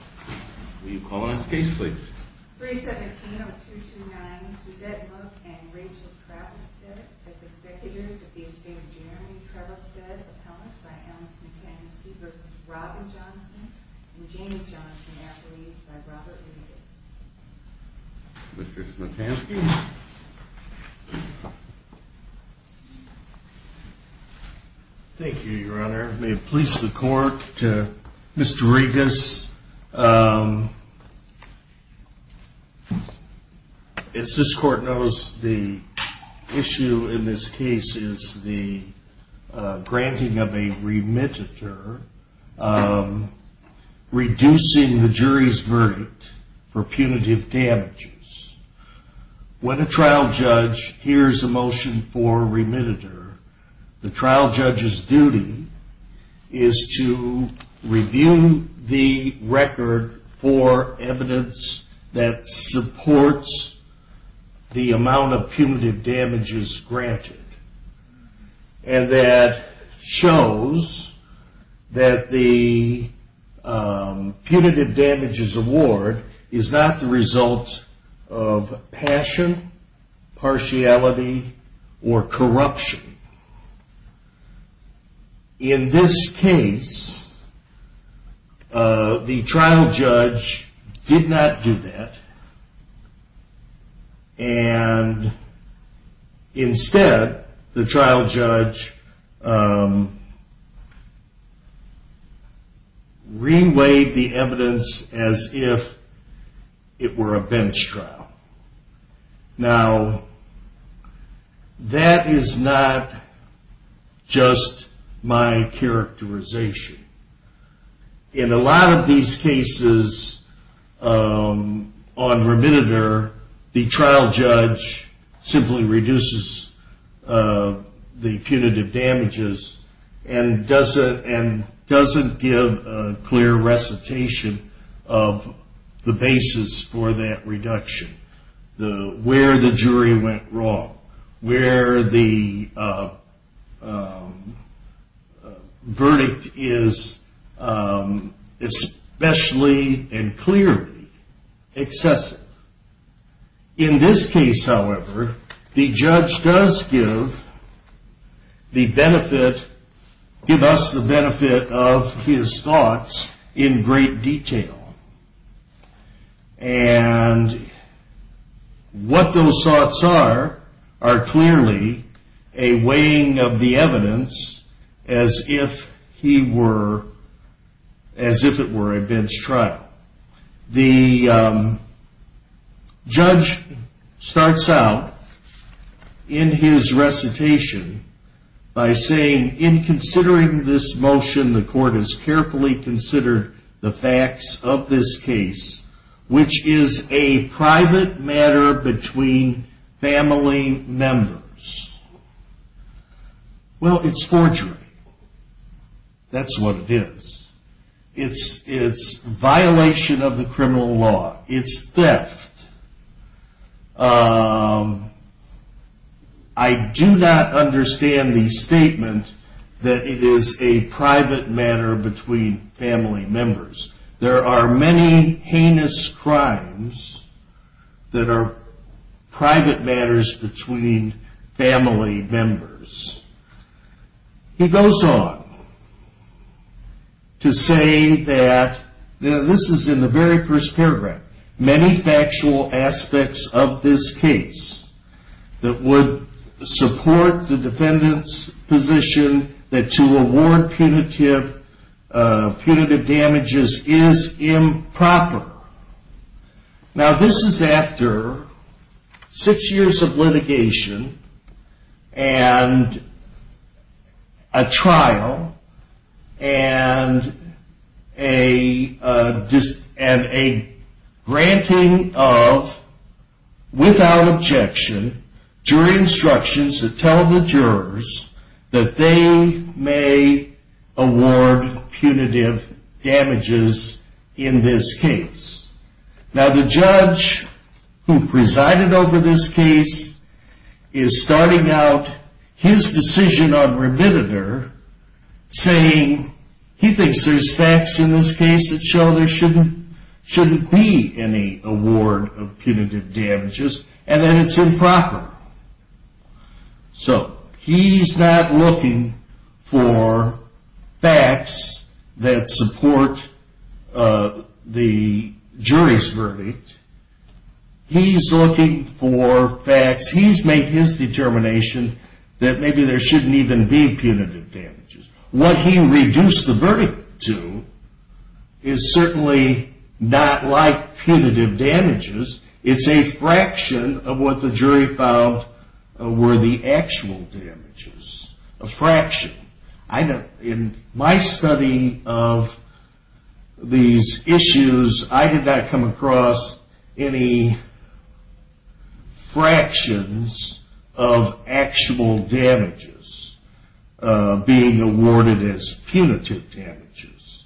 317-229 Suzette Mook v. Rachel Travistad as Executives of the Estate of Jeremy Travistad, Appellants by Alan Smetansky v. Robin Johnson and Jamie Johnson, Affiliates by Robert Regas Mr. Smetansky Thank you, Your Honor. May it please the court, Mr. Regas, as this court knows, the issue in this case is the granting of a remittiture, reducing the jury's verdict for punitive damages. When a trial judge hears a motion for remittiture, the trial judge's duty is to review the record for evidence that supports the amount of punitive damages granted. And that shows that the punitive damages award is not the result of passion, partiality, or corruption. In this case, the trial judge did not do that, and instead, the trial judge re-weighed the evidence as if it were a bench trial. Now, that is not just my characterization. In a lot of these cases, on remittiture, the trial judge simply reduces the punitive damages and doesn't give a clear recitation of the basis for that reduction. Where the jury went wrong, where the verdict is especially and clearly excessive. In this case, however, the judge does give us the benefit of his thoughts in great detail. And what those thoughts are, are clearly a weighing of the evidence as if it were a bench trial. Now, the judge starts out in his recitation by saying, In considering this motion, the court has carefully considered the facts of this case, which is a private matter between family members. Well, it's forgery. That's what it is. It's violation of the criminal law. It's theft. I do not understand the statement that it is a private matter between family members. There are many heinous crimes that are private matters between family members. He goes on to say that, this is in the very first paragraph, There are many factual aspects of this case that would support the defendant's position that to award punitive damages is improper. Now, this is after six years of litigation and a trial and a granting of, without objection, jury instructions that tell the jurors that they may award punitive damages in this case. Now, the judge who presided over this case is starting out his decision on remitted her, saying he thinks there's facts in this case that show there shouldn't be any award of punitive damages and that it's improper. So, he's not looking for facts that support the jury's verdict. He's looking for facts, he's made his determination that maybe there shouldn't even be punitive damages. What he reduced the verdict to is certainly not like punitive damages. It's a fraction of what the jury found were the actual damages. A fraction. In my study of these issues, I did not come across any fractions of actual damages being awarded as punitive damages.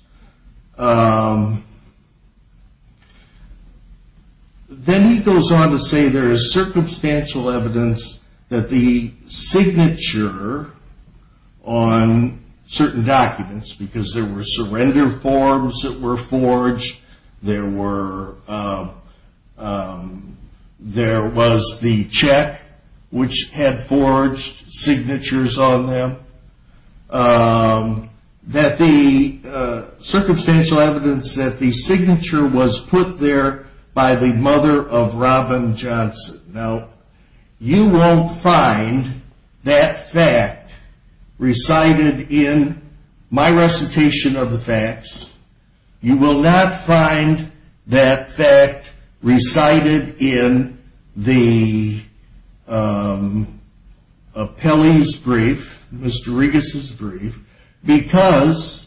Then he goes on to say there is circumstantial evidence that the signature on certain documents, because there were surrender forms that were forged, there was the check which had forged signatures on them, that the circumstantial evidence that the signature was put there by the mother of Robin Johnson. Now, you won't find that fact recited in my recitation of the facts. You will not find that fact recited in the appellee's brief, Mr. Regas' brief, because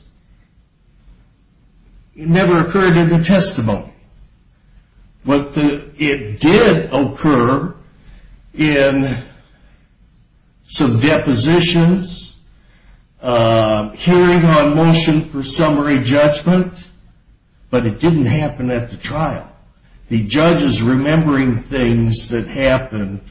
it never occurred in the testimony. It did occur in some depositions, hearing on motion for summary judgment, but it didn't happen at the trial. The judge is remembering things that happened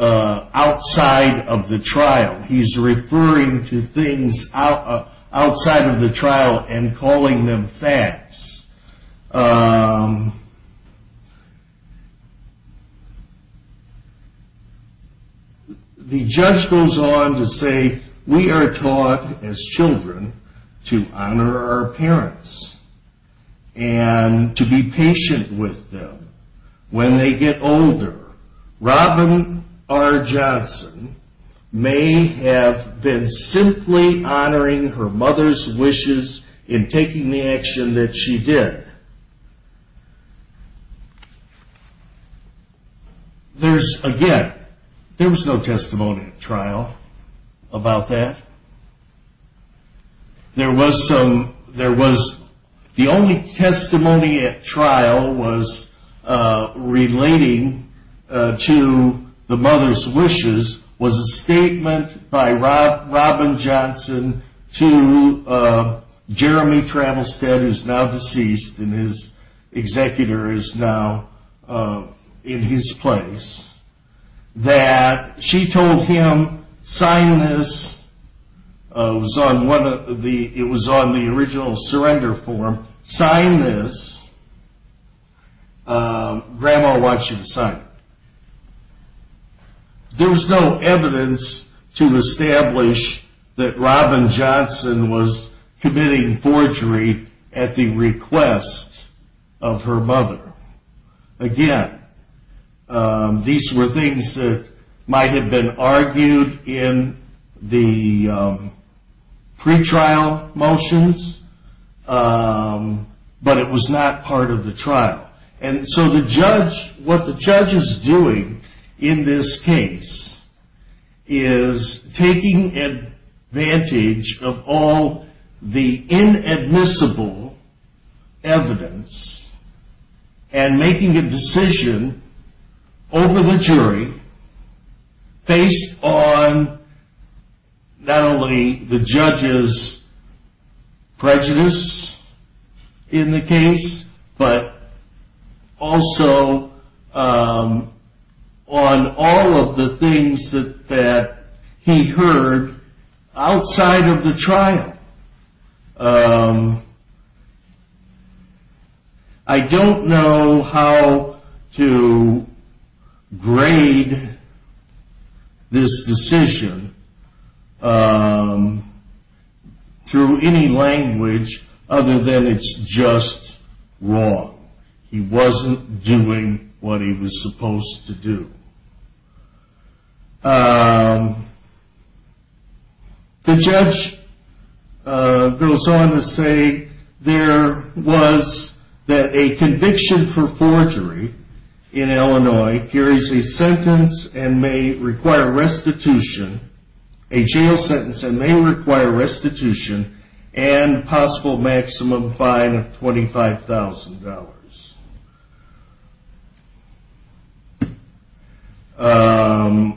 outside of the trial. He's referring to things outside of the trial and calling them facts. The judge goes on to say we are taught as children to honor our parents and to be patient with them when they get older. Robin R. Johnson may have been simply honoring her mother's wishes in taking the action that she did. Again, there was no testimony at trial about that. The only testimony at trial relating to the mother's wishes was a statement by Robin Johnson to Jeremy Trammelstead, who is now deceased and his executor is now in his place, that she told him, sign this. It was on the original surrender form. Sign this. Grandma wants you to sign it. There was no evidence to establish that Robin Johnson was committing forgery at the request of her mother. Again, these were things that might have been argued in the pretrial motions, but it was not part of the trial. What the judge is doing in this case is taking advantage of all the inadmissible evidence and making a decision over the jury based on not only the judge's prejudice in the case, but also on all of the things that he heard outside of the trial. I don't know how to grade this decision through any language other than it's just wrong. He wasn't doing what he was supposed to do. The judge goes on to say there was that a conviction for forgery in Illinois carries a sentence and may require restitution, a jail sentence and may require restitution and possible maximum fine of $25,000.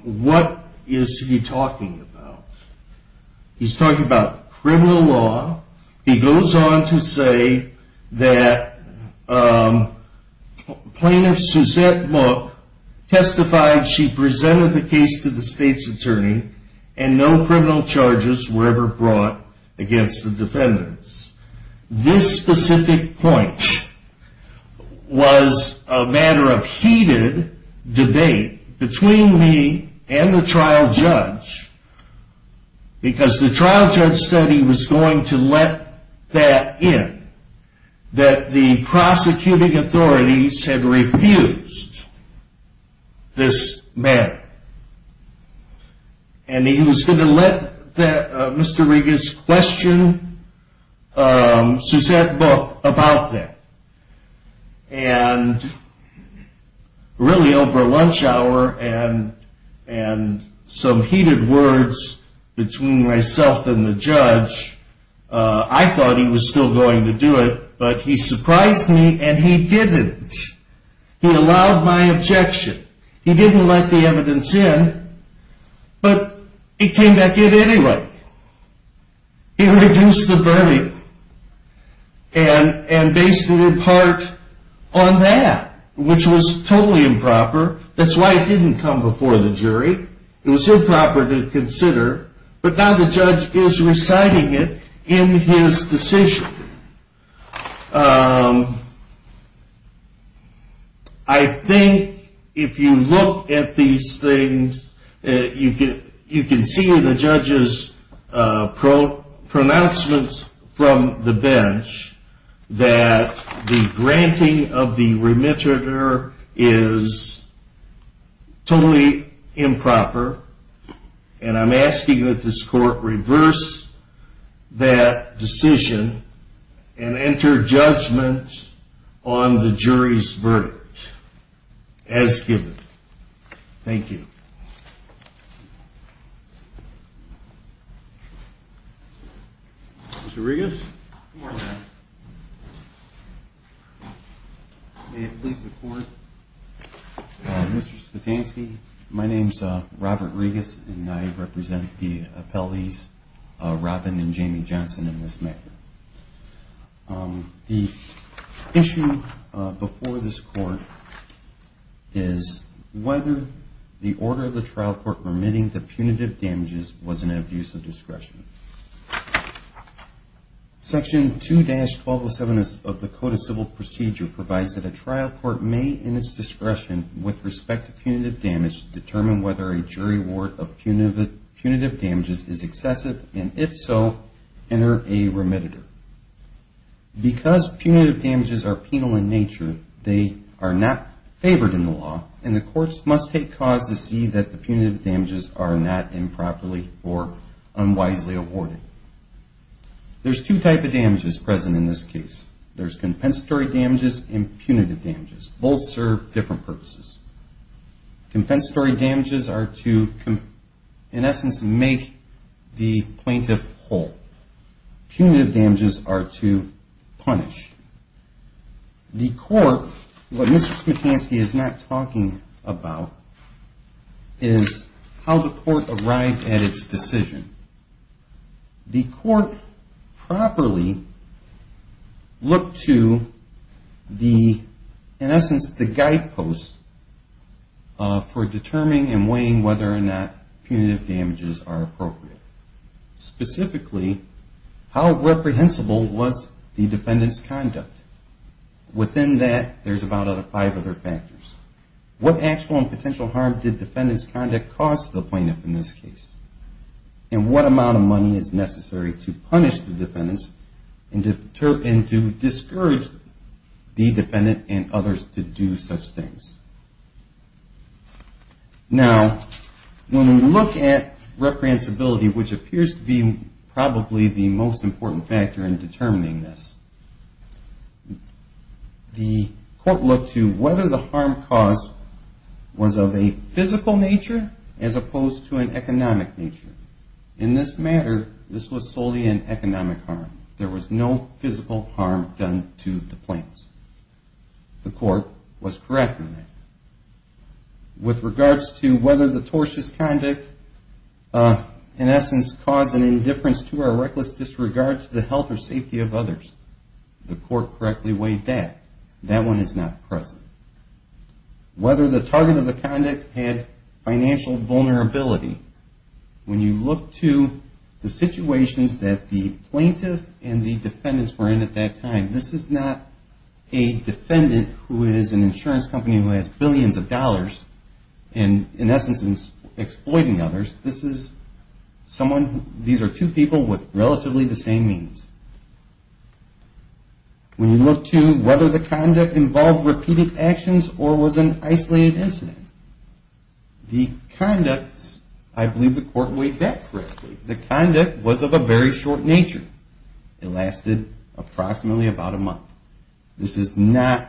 What is he talking about? He's talking about criminal law. He goes on to say that Plaintiff Suzette Mook testified she presented the case to the state's attorney and no criminal charges were ever brought against the defendants. This specific point was a matter of heated debate between me and the trial judge because the trial judge said he was going to let that in, that the prosecuting authorities had refused this matter. And he was going to let Mr. Regas question Suzette Mook about that. And really over lunch hour and some heated words between myself and the judge, I thought he was still going to do it, but he surprised me and he didn't. He allowed my objection. He didn't let the evidence in, but it came back in anyway. He reduced the burning and based it in part on that, which was totally improper. That's why it didn't come before the jury. It was improper to consider, but now the judge is reciting it in his decision. I think if you look at these things, you can see in the judge's pronouncements from the bench that the granting of the remitter is totally improper. And I'm asking that this court reverse that decision and enter judgment on the jury's verdict as given. Thank you. Mr. Regas? May it please the court. Mr. Spetansky, my name is Robert Regas, and I represent the appellees Robin and Jamie Johnson in this matter. The issue before this court is whether the order of the trial court permitting the punitive damages was an abuse of discretion. Section 2-1207 of the Code of Civil Procedure provides that a trial court may, in its discretion, with respect to punitive damage, determine whether a jury award of punitive damages is excessive, and if so, enter a remitter. Because punitive damages are penal in nature, they are not favored in the law, and the courts must take cause to see that the punitive damages are not improperly or unwisely awarded. There's two types of damages present in this case. There's compensatory damages and punitive damages. Both serve different purposes. Compensatory damages are to, in essence, make the plaintiff whole. Punitive damages are to punish. The court, what Mr. Spetansky is not talking about, is how the court arrived at its decision. The court properly looked to the, in essence, the guideposts for determining and weighing whether or not punitive damages are appropriate. Specifically, how reprehensible was the defendant's conduct? Within that, there's about five other factors. What actual and potential harm did defendant's conduct cause to the plaintiff in this case? And what amount of money is necessary to punish the defendant and to discourage the defendant and others to do such things? Now, when we look at reprehensibility, which appears to be probably the most important factor in determining this, the court looked to whether the harm caused was of a physical nature as opposed to an economic nature. In this matter, this was solely an economic harm. There was no physical harm done to the plaintiffs. The court was correct in that. With regards to whether the tortious conduct, in essence, caused an indifference to or a reckless disregard to the health or safety of others, the court correctly weighed that. That one is not present. Whether the target of the conduct had financial vulnerability. When you look to the situations that the plaintiff and the defendants were in at that time, this is not a defendant who is an insurance company who has billions of dollars and, in essence, is exploiting others. These are two people with relatively the same means. When you look to whether the conduct involved repeated actions or was an isolated incident, the conduct, I believe the court weighed that correctly. The conduct was of a very short nature. It lasted approximately about a month. This is not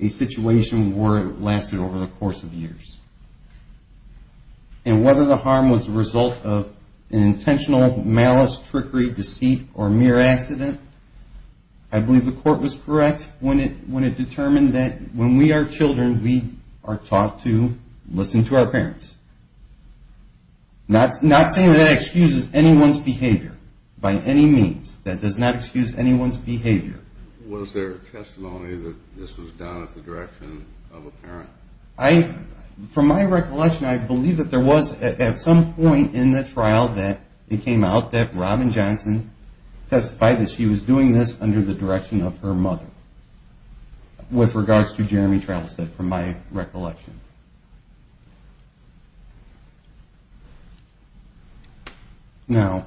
a situation where it lasted over the course of years. And whether the harm was the result of an intentional malice, trickery, deceit, or mere accident, I believe the court was correct when it determined that when we are children, we are taught to listen to our parents. Not saying that that excuses anyone's behavior by any means. That does not excuse anyone's behavior. Was there testimony that this was done at the direction of a parent? From my recollection, I believe that there was at some point in the trial that it came out that Robin Johnson testified that she was doing this under the direction of her mother. With regards to Jeremy Travistad, from my recollection. Now,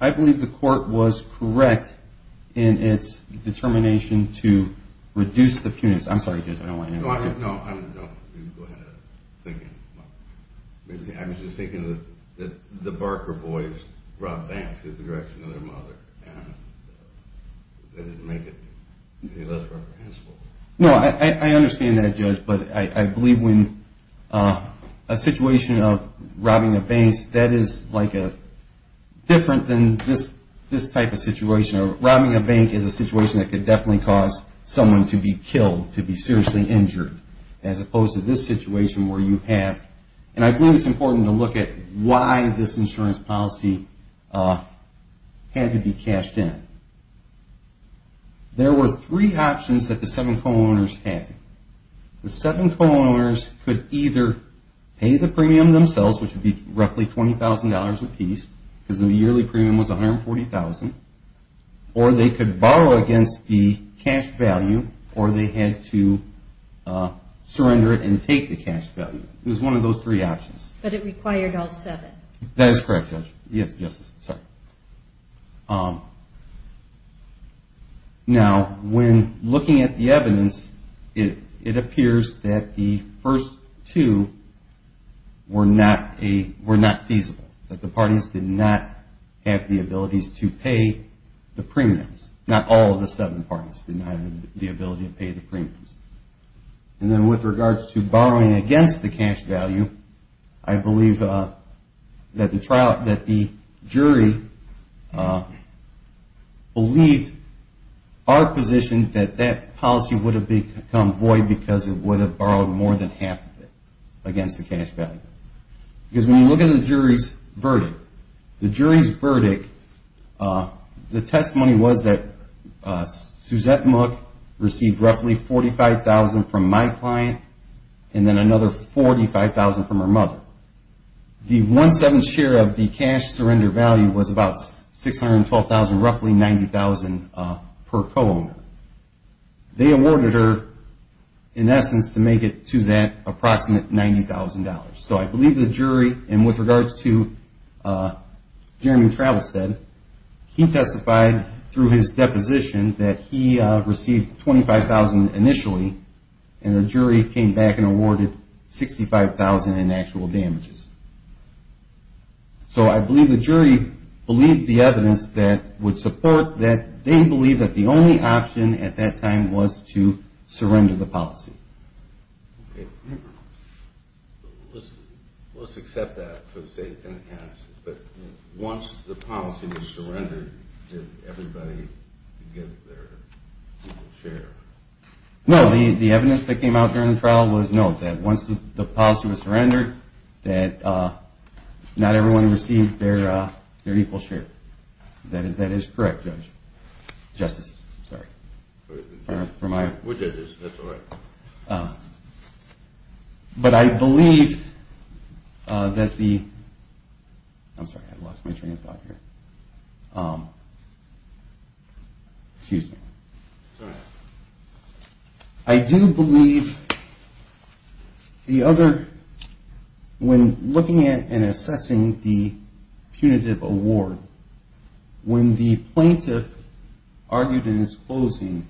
I believe the court was correct in its determination to reduce the punishment. I'm sorry, Judge, I don't want to interrupt you. No, go ahead. I was just thinking that the Barker boys robbed banks in the direction of their mother. And they didn't make it any less reprehensible. No, I understand that, Judge. But I believe when a situation of robbing a bank, that is like a different than this type of situation. Robbing a bank is a situation that could definitely cause someone to be killed, to be seriously injured. As opposed to this situation where you have, and I believe it's important to look at why this insurance policy had to be cashed in. There were three options that the seven co-owners had. The seven co-owners could either pay the premium themselves, which would be roughly $20,000 apiece, because the yearly premium was $140,000. Or they could borrow against the cash value, or they had to surrender it and take the cash value. It was one of those three options. But it required all seven. That is correct, Judge. Yes, Justice, sorry. Now, when looking at the evidence, it appears that the first two were not feasible. That the parties did not have the abilities to pay the premiums. Not all of the seven parties did not have the ability to pay the premiums. And then with regards to borrowing against the cash value, I believe that the jury believed our position that that policy would have become void because it would have borrowed more than half of it against the cash value. Because when you look at the jury's verdict, the jury's verdict, the testimony was that Suzette Mook received roughly $45,000 from my client and then another $45,000 from her mother. The one-seventh share of the cash surrender value was about $612,000, roughly $90,000 per co-owner. They awarded her, in essence, to make it to that approximate $90,000. So I believe the jury, and with regards to Jeremy Travelstead, he testified through his deposition that he received $25,000 initially and the jury came back and awarded $65,000 in actual damages. So I believe the jury believed the evidence that would support that. They believe that the only option at that time was to surrender the policy. Okay. Let's accept that for the sake of analysis, but once the policy was surrendered, did everybody get their equal share? No, the evidence that came out during the trial was no, that once the policy was surrendered, that not everyone received their equal share. That is correct, Judge. Justice, I'm sorry. We're judges, that's all right. But I believe that the—I'm sorry, I lost my train of thought here. Excuse me. It's all right. I do believe the other—when looking at and assessing the punitive award, when the plaintiff argued in his closing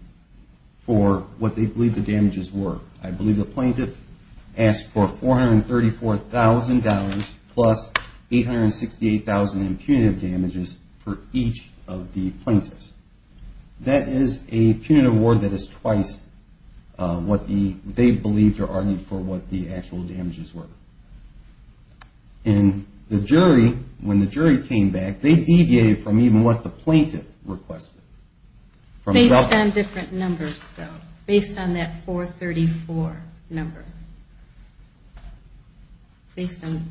for what they believed the damages were, I believe the plaintiff asked for $434,000 plus $868,000 in punitive damages for each of the plaintiffs. That is a punitive award that is twice what they believed or argued for what the actual damages were. And the jury, when the jury came back, they deviated from even what the plaintiff requested. Based on different numbers, though. Based on that $434,000 number. Based on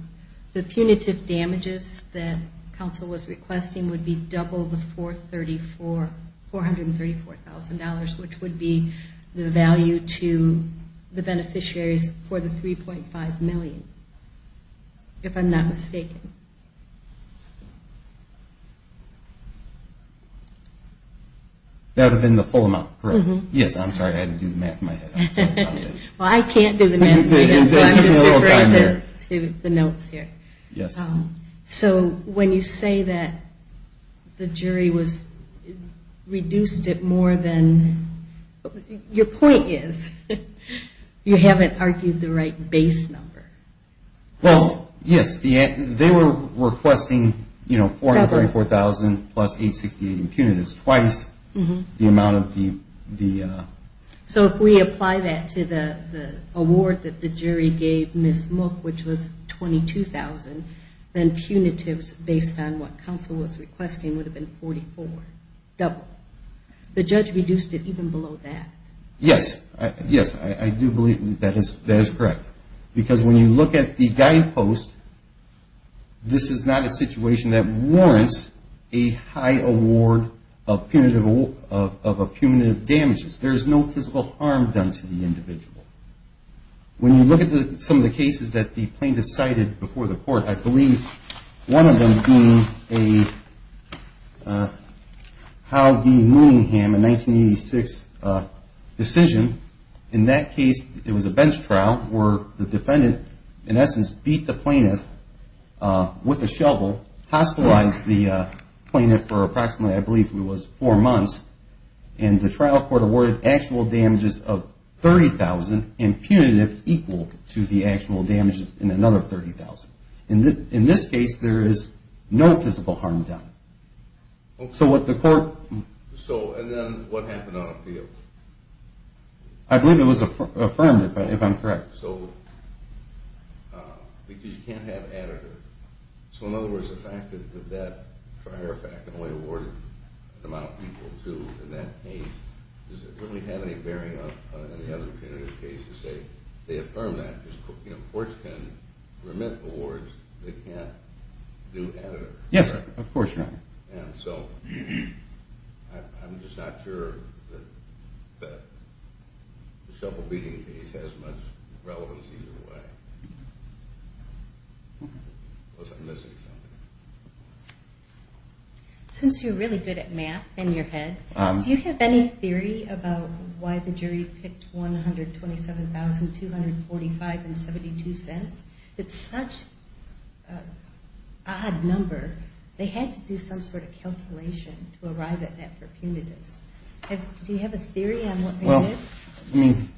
the punitive damages that counsel was requesting would be double the $434,000, which would be the value to the beneficiaries for the $3.5 million, if I'm not mistaken. That would have been the full amount, correct? Yes, I'm sorry, I had to do the math in my head. Well, I can't do the math right now, so I'm just referring to the notes here. Yes. So when you say that the jury was—reduced it more than— your point is you haven't argued the right base number. Well, yes. They were requesting $434,000 plus $868,000 in punitives twice the amount of the— So if we apply that to the award that the jury gave Ms. Mook, which was $22,000, then punitives based on what counsel was requesting would have been 44, double. The judge reduced it even below that. Yes. Yes, I do believe that is correct. Because when you look at the guidepost, this is not a situation that warrants a high award of punitive damages. There is no physical harm done to the individual. When you look at some of the cases that the plaintiff cited before the court, I believe one of them being a Howe v. Mooningham in 1986 decision, in that case it was a bench trial where the defendant, in essence, beat the plaintiff with a shovel, hospitalized the plaintiff for approximately, I believe it was four months, and the trial court awarded actual damages of $30,000 and punitive equal to the actual damages in another $30,000. In this case, there is no physical harm done. So what the court— So, and then what happened on appeal? I believe it was affirmed, if I'm correct. So, because you can't have additive. So, in other words, the fact that that prior fact only awarded an amount equal to, in that case, does it really have any bearing on any other punitive cases? They affirm that. Courts can remit awards. They can't do additive. Yes, of course not. And so I'm just not sure that the shovel beating case has much relevance either way. Was I missing something? Since you're really good at math in your head, do you have any theory about why the jury picked $127,245.72? It's such an odd number. They had to do some sort of calculation to arrive at that for punitives. Do you have a theory on what they did? I mean—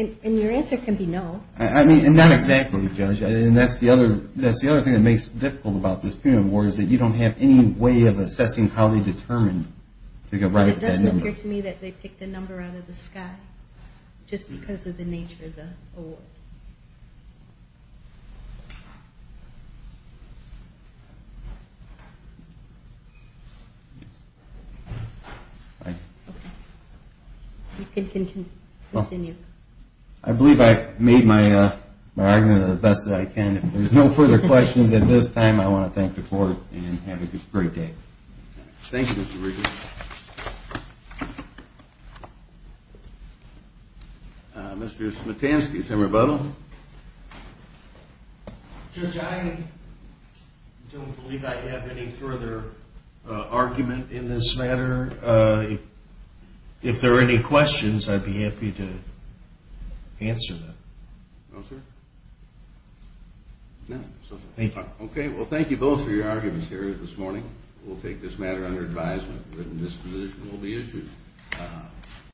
And your answer can be no. I mean, not exactly, Judge. And that's the other thing that makes it difficult about this punitive award is that you don't have any way of assessing how they determined to get right at that number. It doesn't appear to me that they picked a number out of the sky, just because of the nature of the award. You can continue. I believe I made my argument the best that I can. If there's no further questions at this time, I want to thank the Court and have a great day. Thank you, Mr. Regan. Mr. Smetansky, is there a rebuttal? Judge, I don't believe I have any further argument in this matter. If there are any questions, I'd be happy to answer them. No, sir? No, sorry. Okay, well, thank you both for your arguments here this morning. We'll take this matter under advisement, and this decision will be issued.